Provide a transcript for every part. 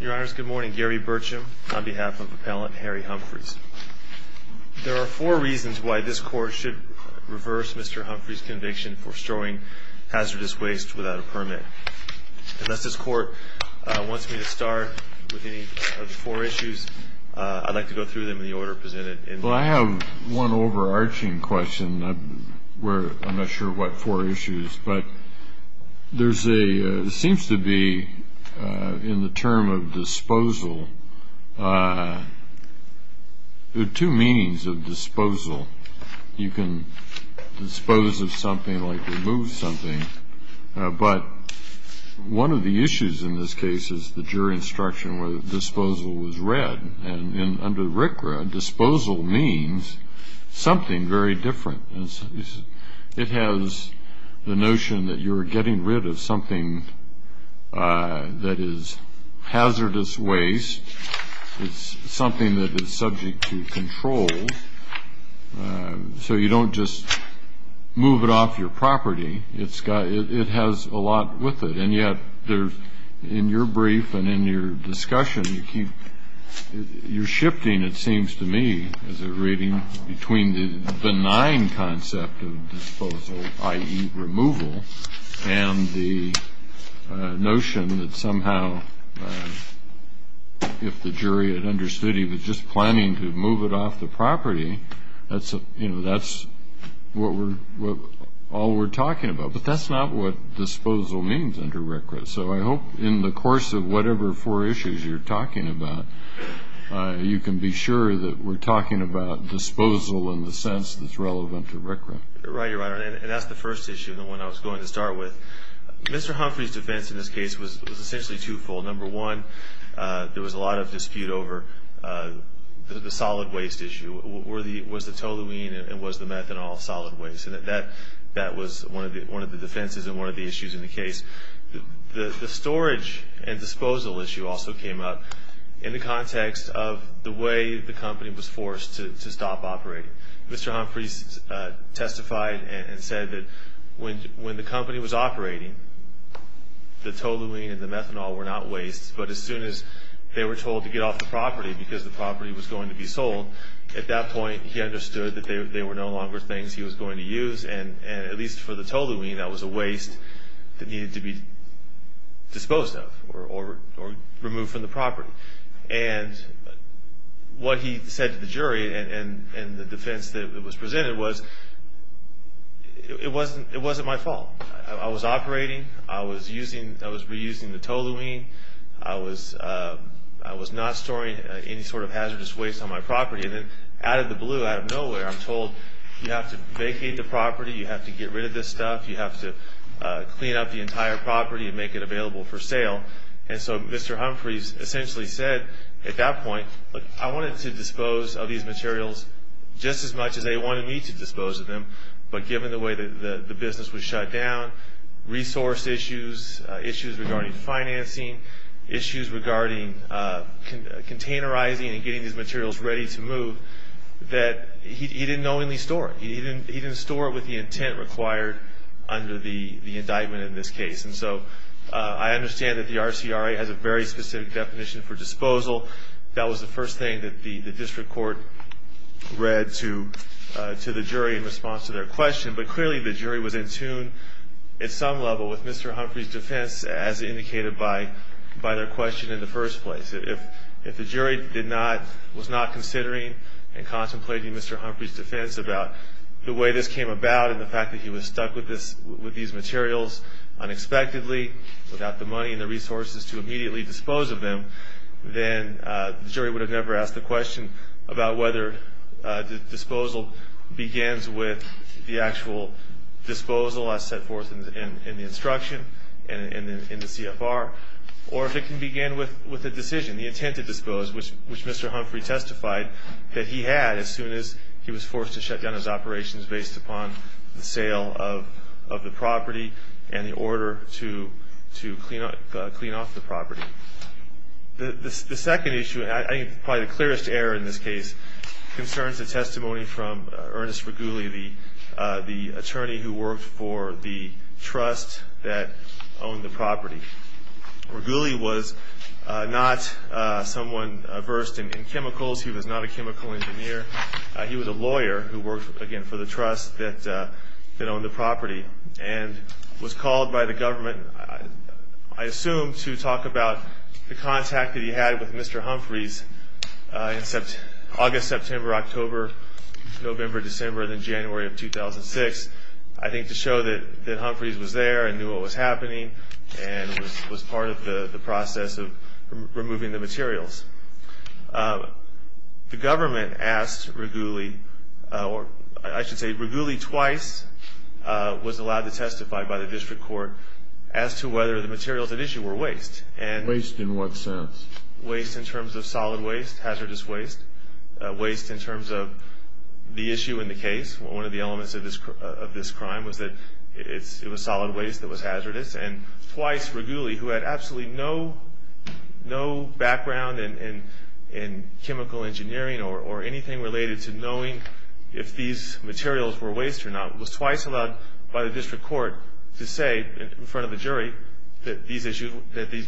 Your Honors, good morning. Gary Burcham on behalf of Appellant Harry Humphries. There are four reasons why this Court should reverse Mr. Humphries' conviction for storing hazardous waste without a permit. Unless this Court wants me to start with any of the four issues, I'd like to go through them in the order presented. Well, I have one overarching question. I'm not sure what four issues. But there seems to be, in the term of disposal, two meanings of disposal. You can dispose of something like remove something. But one of the issues in this case is the jury instruction where the disposal was read. And under RCRA, disposal means something very different. It has the notion that you're getting rid of something that is hazardous waste. It's something that is subject to control. So you don't just move it off your property. It has a lot with it. And yet, in your brief and in your discussion, you're shifting, it seems to me, as a reading, between the benign concept of disposal, i.e. removal, and the notion that somehow if the jury had understood he was just planning to move it off the property, that's all we're talking about. But that's not what disposal means under RCRA. So I hope in the course of whatever four issues you're talking about, you can be sure that we're talking about disposal in the sense that's relevant to RCRA. Right, Your Honor. And that's the first issue, the one I was going to start with. Mr. Humphrey's defense in this case was essentially twofold. Number one, there was a lot of dispute over the solid waste issue. Was the toluene and was the methanol solid waste? And that was one of the defenses and one of the issues in the case. The storage and disposal issue also came up in the context of the way the company was forced to stop operating. Mr. Humphrey testified and said that when the company was operating, the toluene and the methanol were not waste, but as soon as they were told to get off the property because the property was going to be sold, at that point he understood that they were no longer things he was going to use, and at least for the toluene, that was a waste that needed to be disposed of or removed from the property. And what he said to the jury in the defense that was presented was, it wasn't my fault. I was operating. I was reusing the toluene. I was not storing any sort of hazardous waste on my property. And then out of the blue, out of nowhere, I'm told you have to vacate the property. You have to get rid of this stuff. You have to clean up the entire property and make it available for sale. And so Mr. Humphrey essentially said at that point, look, I wanted to dispose of these materials just as much as they wanted me to dispose of them, but given the way the business was shut down, resource issues, issues regarding financing, issues regarding containerizing and getting these materials ready to move, that he didn't knowingly store it. He didn't store it with the intent required under the indictment in this case. And so I understand that the RCRA has a very specific definition for disposal. That was the first thing that the district court read to the jury in response to their question. But clearly the jury was in tune at some level with Mr. Humphrey's defense as indicated by their question in the first place. If the jury was not considering and contemplating Mr. Humphrey's defense about the way this came about and the fact that he was stuck with these materials unexpectedly without the money and the resources to immediately dispose of them, then the jury would have never asked the question about whether the disposal begins with the actual disposal as set forth in the instruction and in the CFR or if it can begin with a decision, the intent to dispose, which Mr. Humphrey testified that he had as soon as he was forced to shut down his operations based upon the sale of the property and the order to clean off the property. The second issue, I think probably the clearest error in this case, concerns the testimony from Ernest Riguli, the attorney who worked for the trust that owned the property. Riguli was not someone versed in chemicals. He was not a chemical engineer. He was a lawyer who worked, again, for the trust that owned the property. He was called by the government, I assume, to talk about the contact that he had with Mr. Humphrey's in August, September, October, November, December, and then January of 2006, I think to show that Humphrey's was there and knew what was happening and was part of the process of removing the materials. The government asked Riguli, or I should say Riguli twice was allowed to testify by the district court as to whether the materials at issue were waste. Waste in what sense? Waste in terms of solid waste, hazardous waste, waste in terms of the issue in the case. One of the elements of this crime was that it was solid waste that was hazardous. And twice, Riguli, who had absolutely no background in chemical engineering or anything related to knowing if these materials were waste or not, was twice allowed by the district court to say in front of the jury that these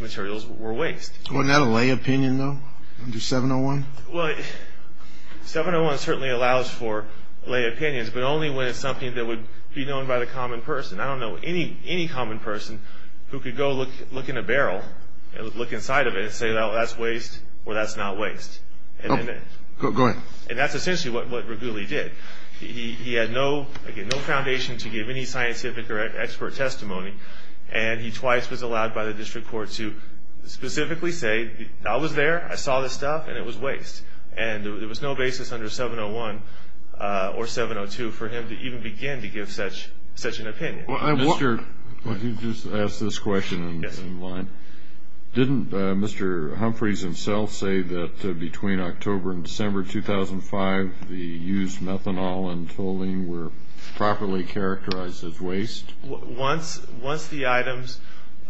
materials were waste. Wasn't that a lay opinion, though, under 701? Well, 701 certainly allows for lay opinions, but only when it's something that would be known by the common person. I don't know any common person who could go look in a barrel and look inside of it and say, well, that's waste or that's not waste. Go ahead. And that's essentially what Riguli did. He had no, again, no foundation to give any scientific or expert testimony, and he twice was allowed by the district court to specifically say, I was there, I saw this stuff, and it was waste. And there was no basis under 701 or 702 for him to even begin to give such an opinion. Well, I want to just ask this question in line. Didn't Mr. Humphreys himself say that between October and December 2005, the used methanol and toluene were properly characterized as waste? Once the items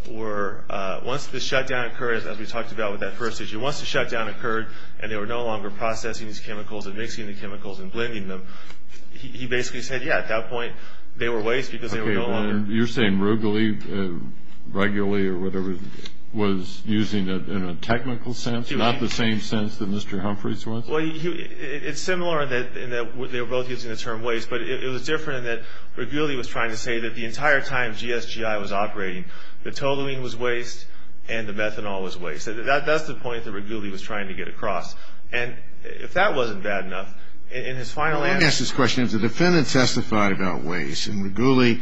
were, once the shutdown occurred, as we talked about with that first issue, once the shutdown occurred and they were no longer processing these chemicals and mixing the chemicals and blending them, he basically said, yeah, at that point they were waste because they were no longer. Okay, you're saying Riguli regularly or whatever was using it in a technical sense, not the same sense that Mr. Humphreys was? Well, it's similar in that they were both using the term waste, but it was different in that Riguli was trying to say that the entire time GSGI was operating, the toluene was waste and the methanol was waste. That's the point that Riguli was trying to get across. And if that wasn't bad enough, in his final answer. Let me ask this question. If the defendant testified about waste and Riguli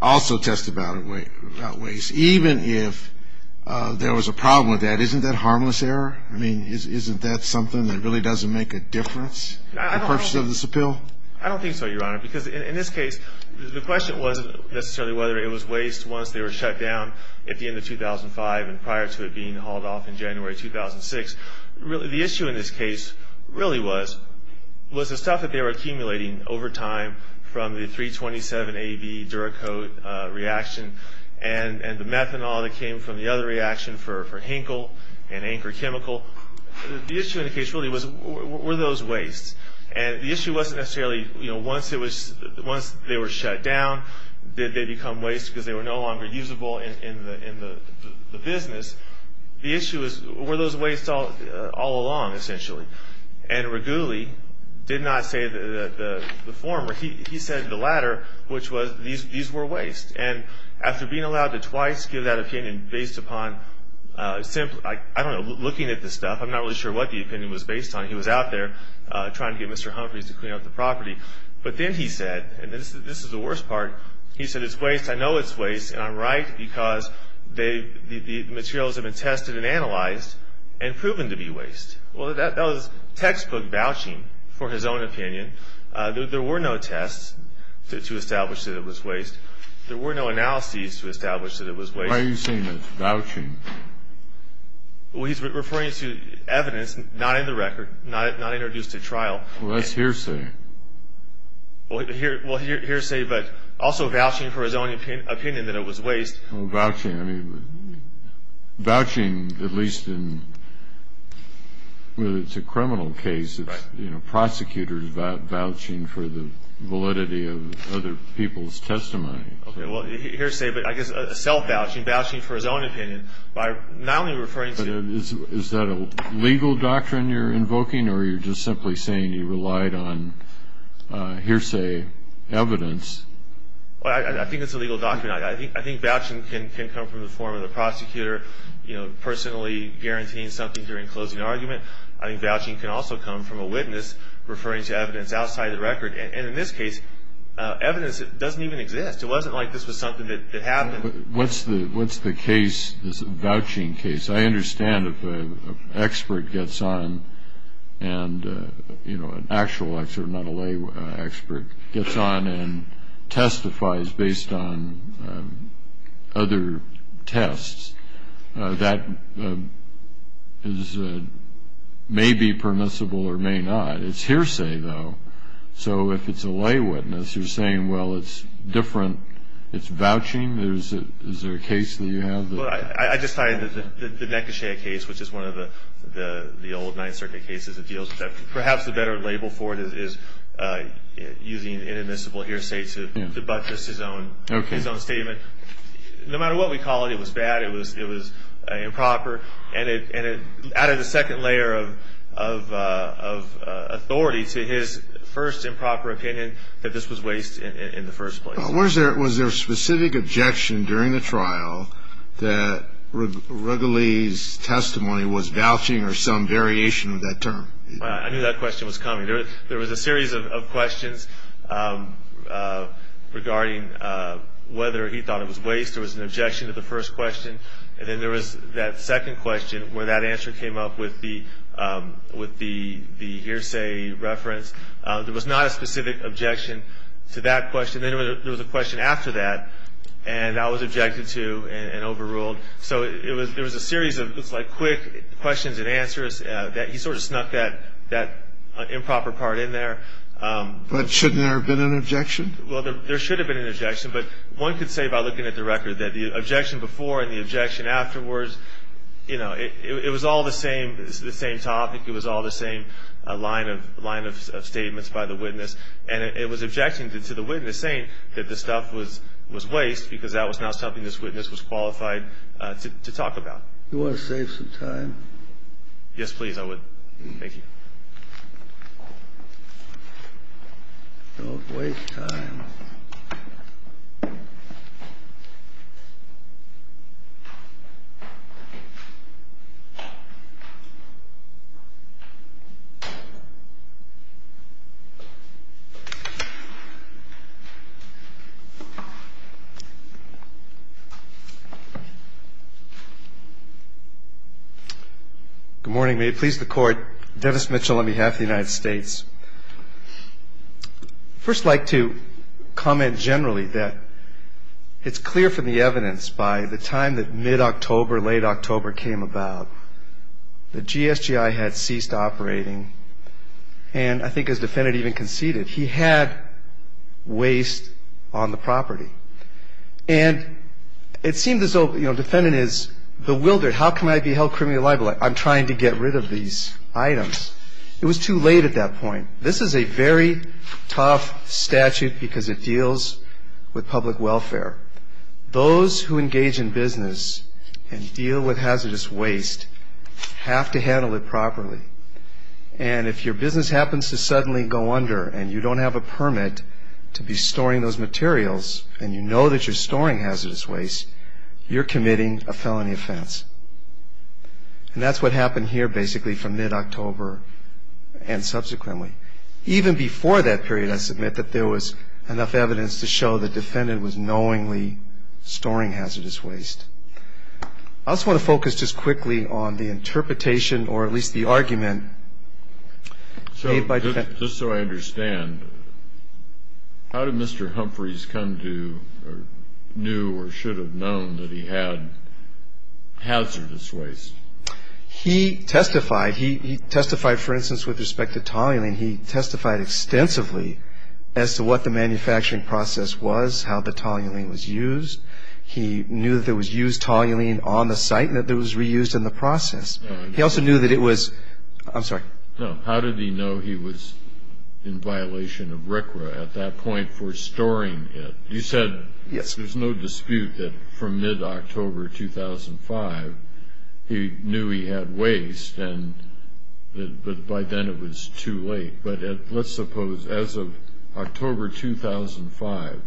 also testified about waste, even if there was a problem with that, isn't that harmless error? I mean, isn't that something that really doesn't make a difference in the purpose of this appeal? I don't think so, Your Honor, because in this case, the question wasn't necessarily whether it was waste once they were shut down at the end of 2005 and prior to it being hauled off in January 2006. The issue in this case really was the stuff that they were accumulating over time from the 327AB Duracoat reaction and the methanol that came from the other reaction for Henkel and Anchor Chemical. The issue in the case really were those wastes. And the issue wasn't necessarily once they were shut down, did they become waste because they were no longer usable in the business. The issue was were those wastes all along, essentially. And Riguli did not say the former. He said the latter, which was these were waste. And after being allowed to twice give that opinion based upon simply, I don't know, looking at the stuff, I'm not really sure what the opinion was based on. He was out there trying to get Mr. Humphreys to clean up the property. But then he said, and this is the worst part, he said it's waste, I know it's waste, and I'm right because the materials have been tested and analyzed and proven to be waste. Well, that was textbook vouching for his own opinion. There were no tests to establish that it was waste. There were no analyses to establish that it was waste. Why are you saying it's vouching? Well, he's referring to evidence not in the record, not introduced at trial. Well, that's hearsay. Well, hearsay, but also vouching for his own opinion that it was waste. Well, vouching, I mean, vouching at least in whether it's a criminal case, you know, prosecutors vouching for the validity of other people's testimony. Okay, well, hearsay, but I guess self-vouching, vouching for his own opinion by not only referring to Is that a legal doctrine you're invoking or you're just simply saying you relied on hearsay evidence? Well, I think it's a legal doctrine. I think vouching can come from the form of the prosecutor, you know, personally guaranteeing something during closing argument. I think vouching can also come from a witness referring to evidence outside the record. And in this case, evidence doesn't even exist. It wasn't like this was something that happened. What's the case, this vouching case? I understand if an expert gets on and, you know, an actual expert, not a lay expert, gets on and testifies based on other tests, that may be permissible or may not. It's hearsay, though. So if it's a lay witness who's saying, well, it's different, it's vouching, is there a case that you have? Well, I just cited the Nekoshea case, which is one of the old Ninth Circuit cases that deals with that. Perhaps the better label for it is using inadmissible hearsay to debunk just his own statement. No matter what we call it, it was bad, it was improper, and it added a second layer of authority to his first improper opinion that this was waste in the first place. Was there a specific objection during the trial that Wrigley's testimony was vouching or some variation of that term? I knew that question was coming. There was a series of questions regarding whether he thought it was waste. There was an objection to the first question. And then there was that second question where that answer came up with the hearsay reference. There was not a specific objection to that question. And then there was a question after that, and that was objected to and overruled. So there was a series of quick questions and answers. He sort of snuck that improper part in there. But shouldn't there have been an objection? Well, there should have been an objection. But one could say by looking at the record that the objection before and the objection afterwards, it was all the same topic, it was all the same line of statements by the witness. And it was objecting to the witness saying that the stuff was waste because that was not something this witness was qualified to talk about. Do you want to save some time? Yes, please. Thank you. Don't waste time. Good morning. May it please the Court. Dennis Mitchell on behalf of the United States. I'd first like to comment generally that it's clear from the evidence by the time that mid-October, late October came about that GSGI had ceased operating, and I think his defendant even conceded. He had waste on the property. And it seemed as though, you know, the defendant is bewildered. How can I be held criminally liable? I'm trying to get rid of these items. It was too late at that point. This is a very tough statute because it deals with public welfare. Those who engage in business and deal with hazardous waste have to handle it properly. And if your business happens to suddenly go under and you don't have a permit to be storing those materials and you know that you're storing hazardous waste, you're committing a felony offense. And that's what happened here basically from mid-October and subsequently. Even before that period, I submit, that there was enough evidence to show the defendant was knowingly storing hazardous waste. I also want to focus just quickly on the interpretation or at least the argument made by the defendant. Just so I understand, how did Mr. Humphreys come to or knew or should have known that he had hazardous waste? He testified. He testified, for instance, with respect to toluene. He testified extensively as to what the manufacturing process was, how the toluene was used. He knew that there was used toluene on the site and that it was reused in the process. He also knew that it was – I'm sorry. No, how did he know he was in violation of RCRA at that point for storing it? You said there's no dispute that from mid-October 2005, he knew he had waste, but by then it was too late. But let's suppose as of October 2005,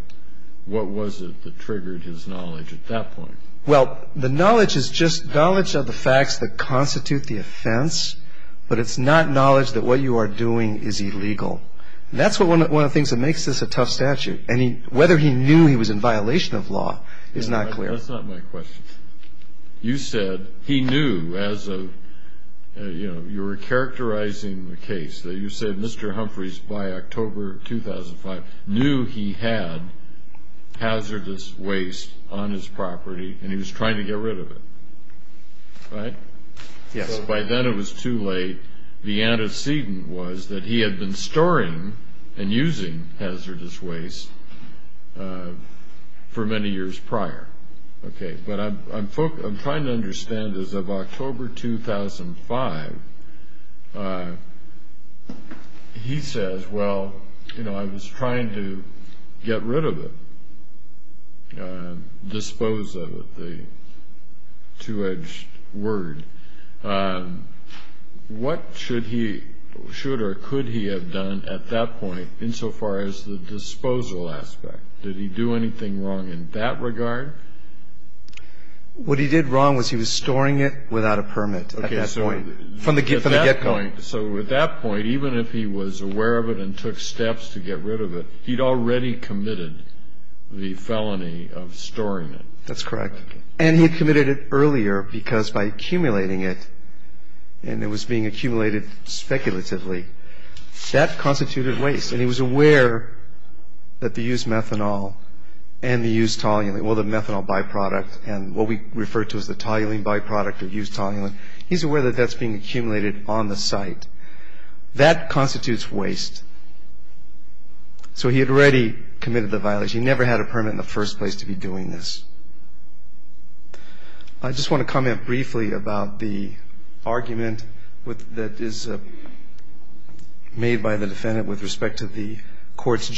what was it that triggered his knowledge at that point? Well, the knowledge is just knowledge of the facts that constitute the offense, but it's not knowledge that what you are doing is illegal. That's one of the things that makes this a tough statute. Whether he knew he was in violation of law is not clear. That's not my question. You said he knew as of – you were characterizing the case. You said Mr. Humphreys, by October 2005, knew he had hazardous waste on his property and he was trying to get rid of it, right? Yes. By then it was too late. The antecedent was that he had been storing and using hazardous waste for many years prior. Okay, but I'm trying to understand as of October 2005, he says, well, you know, I was trying to get rid of it, dispose of it, the two-edged word. What should he – should or could he have done at that point insofar as the disposal aspect? Did he do anything wrong in that regard? What he did wrong was he was storing it without a permit at that point, from the get-go. So at that point, even if he was aware of it and took steps to get rid of it, he'd already committed the felony of storing it. That's correct. And he'd committed it earlier because by accumulating it, and it was being accumulated speculatively, that constituted waste. And he was aware that the used methanol and the used toluene, well, the methanol byproduct and what we refer to as the toluene byproduct or used toluene, he's aware that that's being accumulated on the site. That constitutes waste. So he had already committed the violation. He never had a permit in the first place to be doing this. I just want to comment briefly about the argument that is made by the defendant with respect to the court's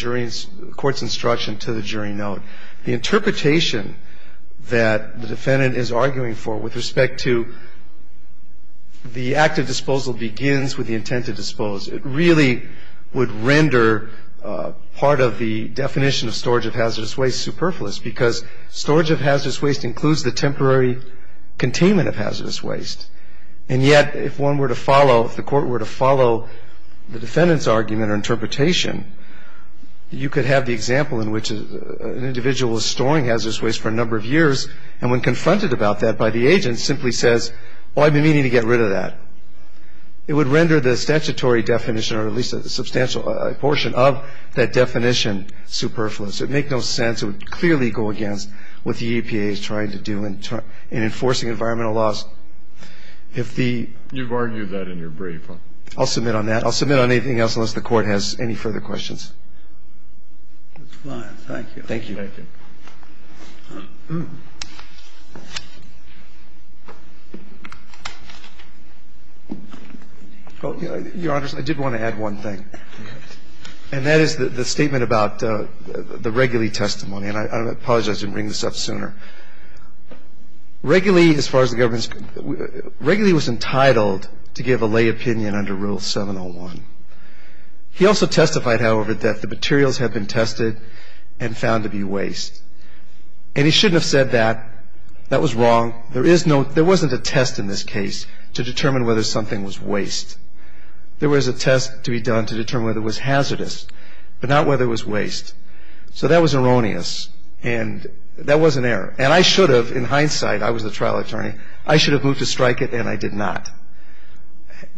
instruction to the jury note. The interpretation that the defendant is arguing for with respect to the act of disposal begins with the intent to dispose. It really would render part of the definition of storage of hazardous waste superfluous because storage of hazardous waste includes the temporary containment of hazardous waste. And yet, if one were to follow, if the court were to follow the defendant's argument or interpretation, you could have the example in which an individual is storing hazardous waste for a number of years and when confronted about that by the agent simply says, well, I've been meaning to get rid of that. It would render the statutory definition or at least a substantial portion of that definition superfluous. It would make no sense. And with regard to the effect of the court's interpretation, and to examine whether the statute would clearly go against what the EPA is trying to do in enforcing environmental laws. If the ---- You've argued that in your brief. I'll submit on that. I'll submit on anything else unless the court has any further questions. That's fine. Thank you. Thank you. Thank you. Thank you. Your Honor, I did want to add one thing. And that is the statement about the Reguley testimony. And I apologize, I have to bring this up sooner. Reguley as far as the government, Reguley was entitled to give a lay opinion under Rule 701. He also testified, however, that the materials had been tested and found to be waste. And he shouldn't have said that. That was wrong. There wasn't a test in this case to determine whether something was waste. There was a test to be done to determine whether it was hazardous, but not whether it was waste. So that was erroneous, and that was an error. And I should have, in hindsight, I was the trial attorney, I should have moved to strike it, and I did not.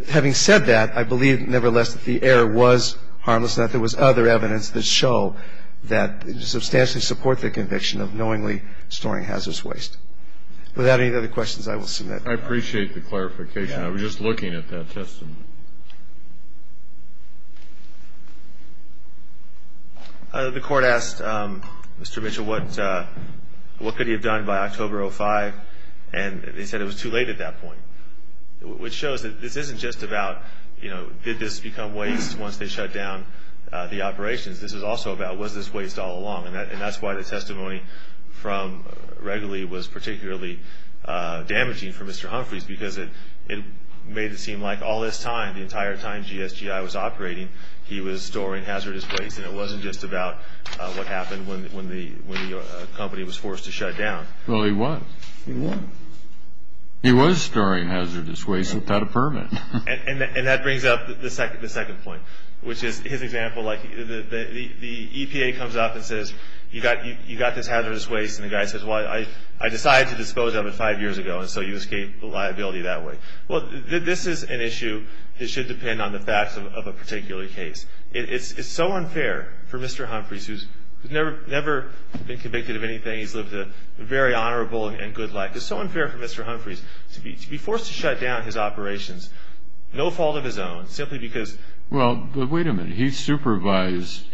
Having said that, I believe, nevertheless, that the error was harmless and that there was other evidence that show that it substantially supports the conviction of knowingly storing hazardous waste. Without any other questions, I will submit. I appreciate the clarification. I was just looking at that testimony. The Court asked Mr. Mitchell what could he have done by October of 2005, and they said it was too late at that point. Which shows that this isn't just about, you know, did this become waste once they shut down the operations? This is also about, was this waste all along? And that's why the testimony from Regoli was particularly damaging for Mr. Humphreys, because it made it seem like all this time, the entire time GSGI was operating, he was storing hazardous waste, and it wasn't just about what happened when the company was forced to shut down. Well, he was. He was. He was storing hazardous waste without a permit. And that brings up the second point, which is his example, like the EPA comes up and says, you got this hazardous waste, and the guy says, well, I decided to dispose of it five years ago, and so you escape the liability that way. Well, this is an issue that should depend on the facts of a particular case. It's so unfair for Mr. Humphreys, who's never been convicted of anything. He's lived a very honorable and good life. It's so unfair for Mr. Humphreys to be forced to shut down his operations, no fault of his own, simply because. Well, but wait a minute. He supervised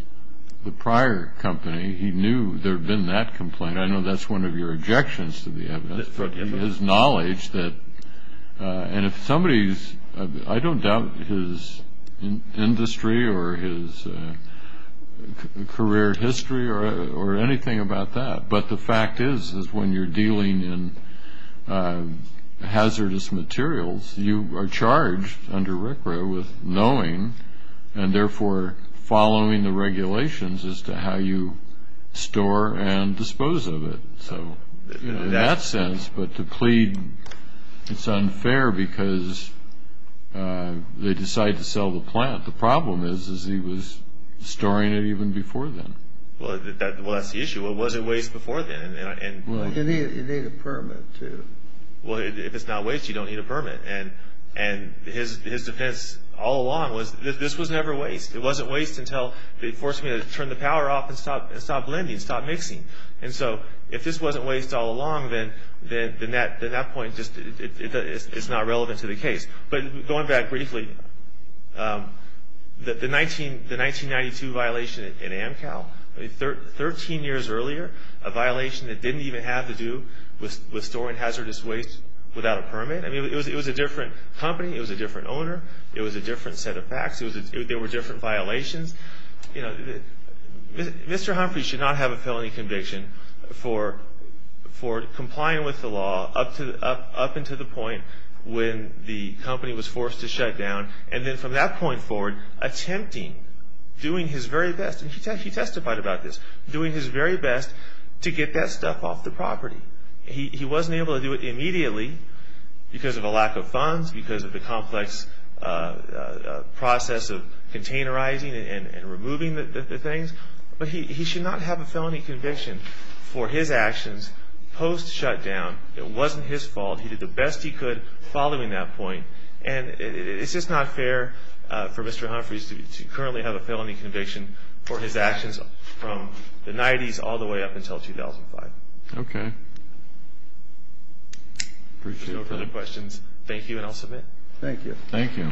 the prior company. He knew there had been that complaint. I know that's one of your objections to the evidence, but his knowledge that, and if somebody's, I don't doubt his industry or his career history or anything about that, but the fact is is when you're dealing in hazardous materials, you are charged under RCRA with knowing and therefore following the regulations as to how you store and dispose of it. So in that sense, but to plead it's unfair because they decide to sell the plant. The problem is is he was storing it even before then. Well, that was the issue. Was it waste before then? You need a permit to. Well, if it's not waste, you don't need a permit. And his defense all along was this was never waste. It wasn't waste until they forced me to turn the power off and stop blending, stop mixing. And so if this wasn't waste all along, then at that point, it's not relevant to the case. But going back briefly, the 1992 violation in Amcal, 13 years earlier, a violation that didn't even have to do with storing hazardous waste without a permit. I mean, it was a different company. It was a different owner. It was a different set of facts. There were different violations. Mr. Humphrey should not have a felony conviction for complying with the law up until the point when the company was forced to shut down, and then from that point forward, attempting, doing his very best, and he testified about this, doing his very best to get that stuff off the property. He wasn't able to do it immediately because of a lack of funds, because of the complex process of containerizing and removing the things. But he should not have a felony conviction for his actions post-shutdown. It wasn't his fault. He did the best he could following that point, and it's just not fair for Mr. Humphrey to currently have a felony conviction for his actions from the 90s all the way up until 2005. Okay. Appreciate that. If you have any questions, thank you, and I'll submit. Thank you. Thank you.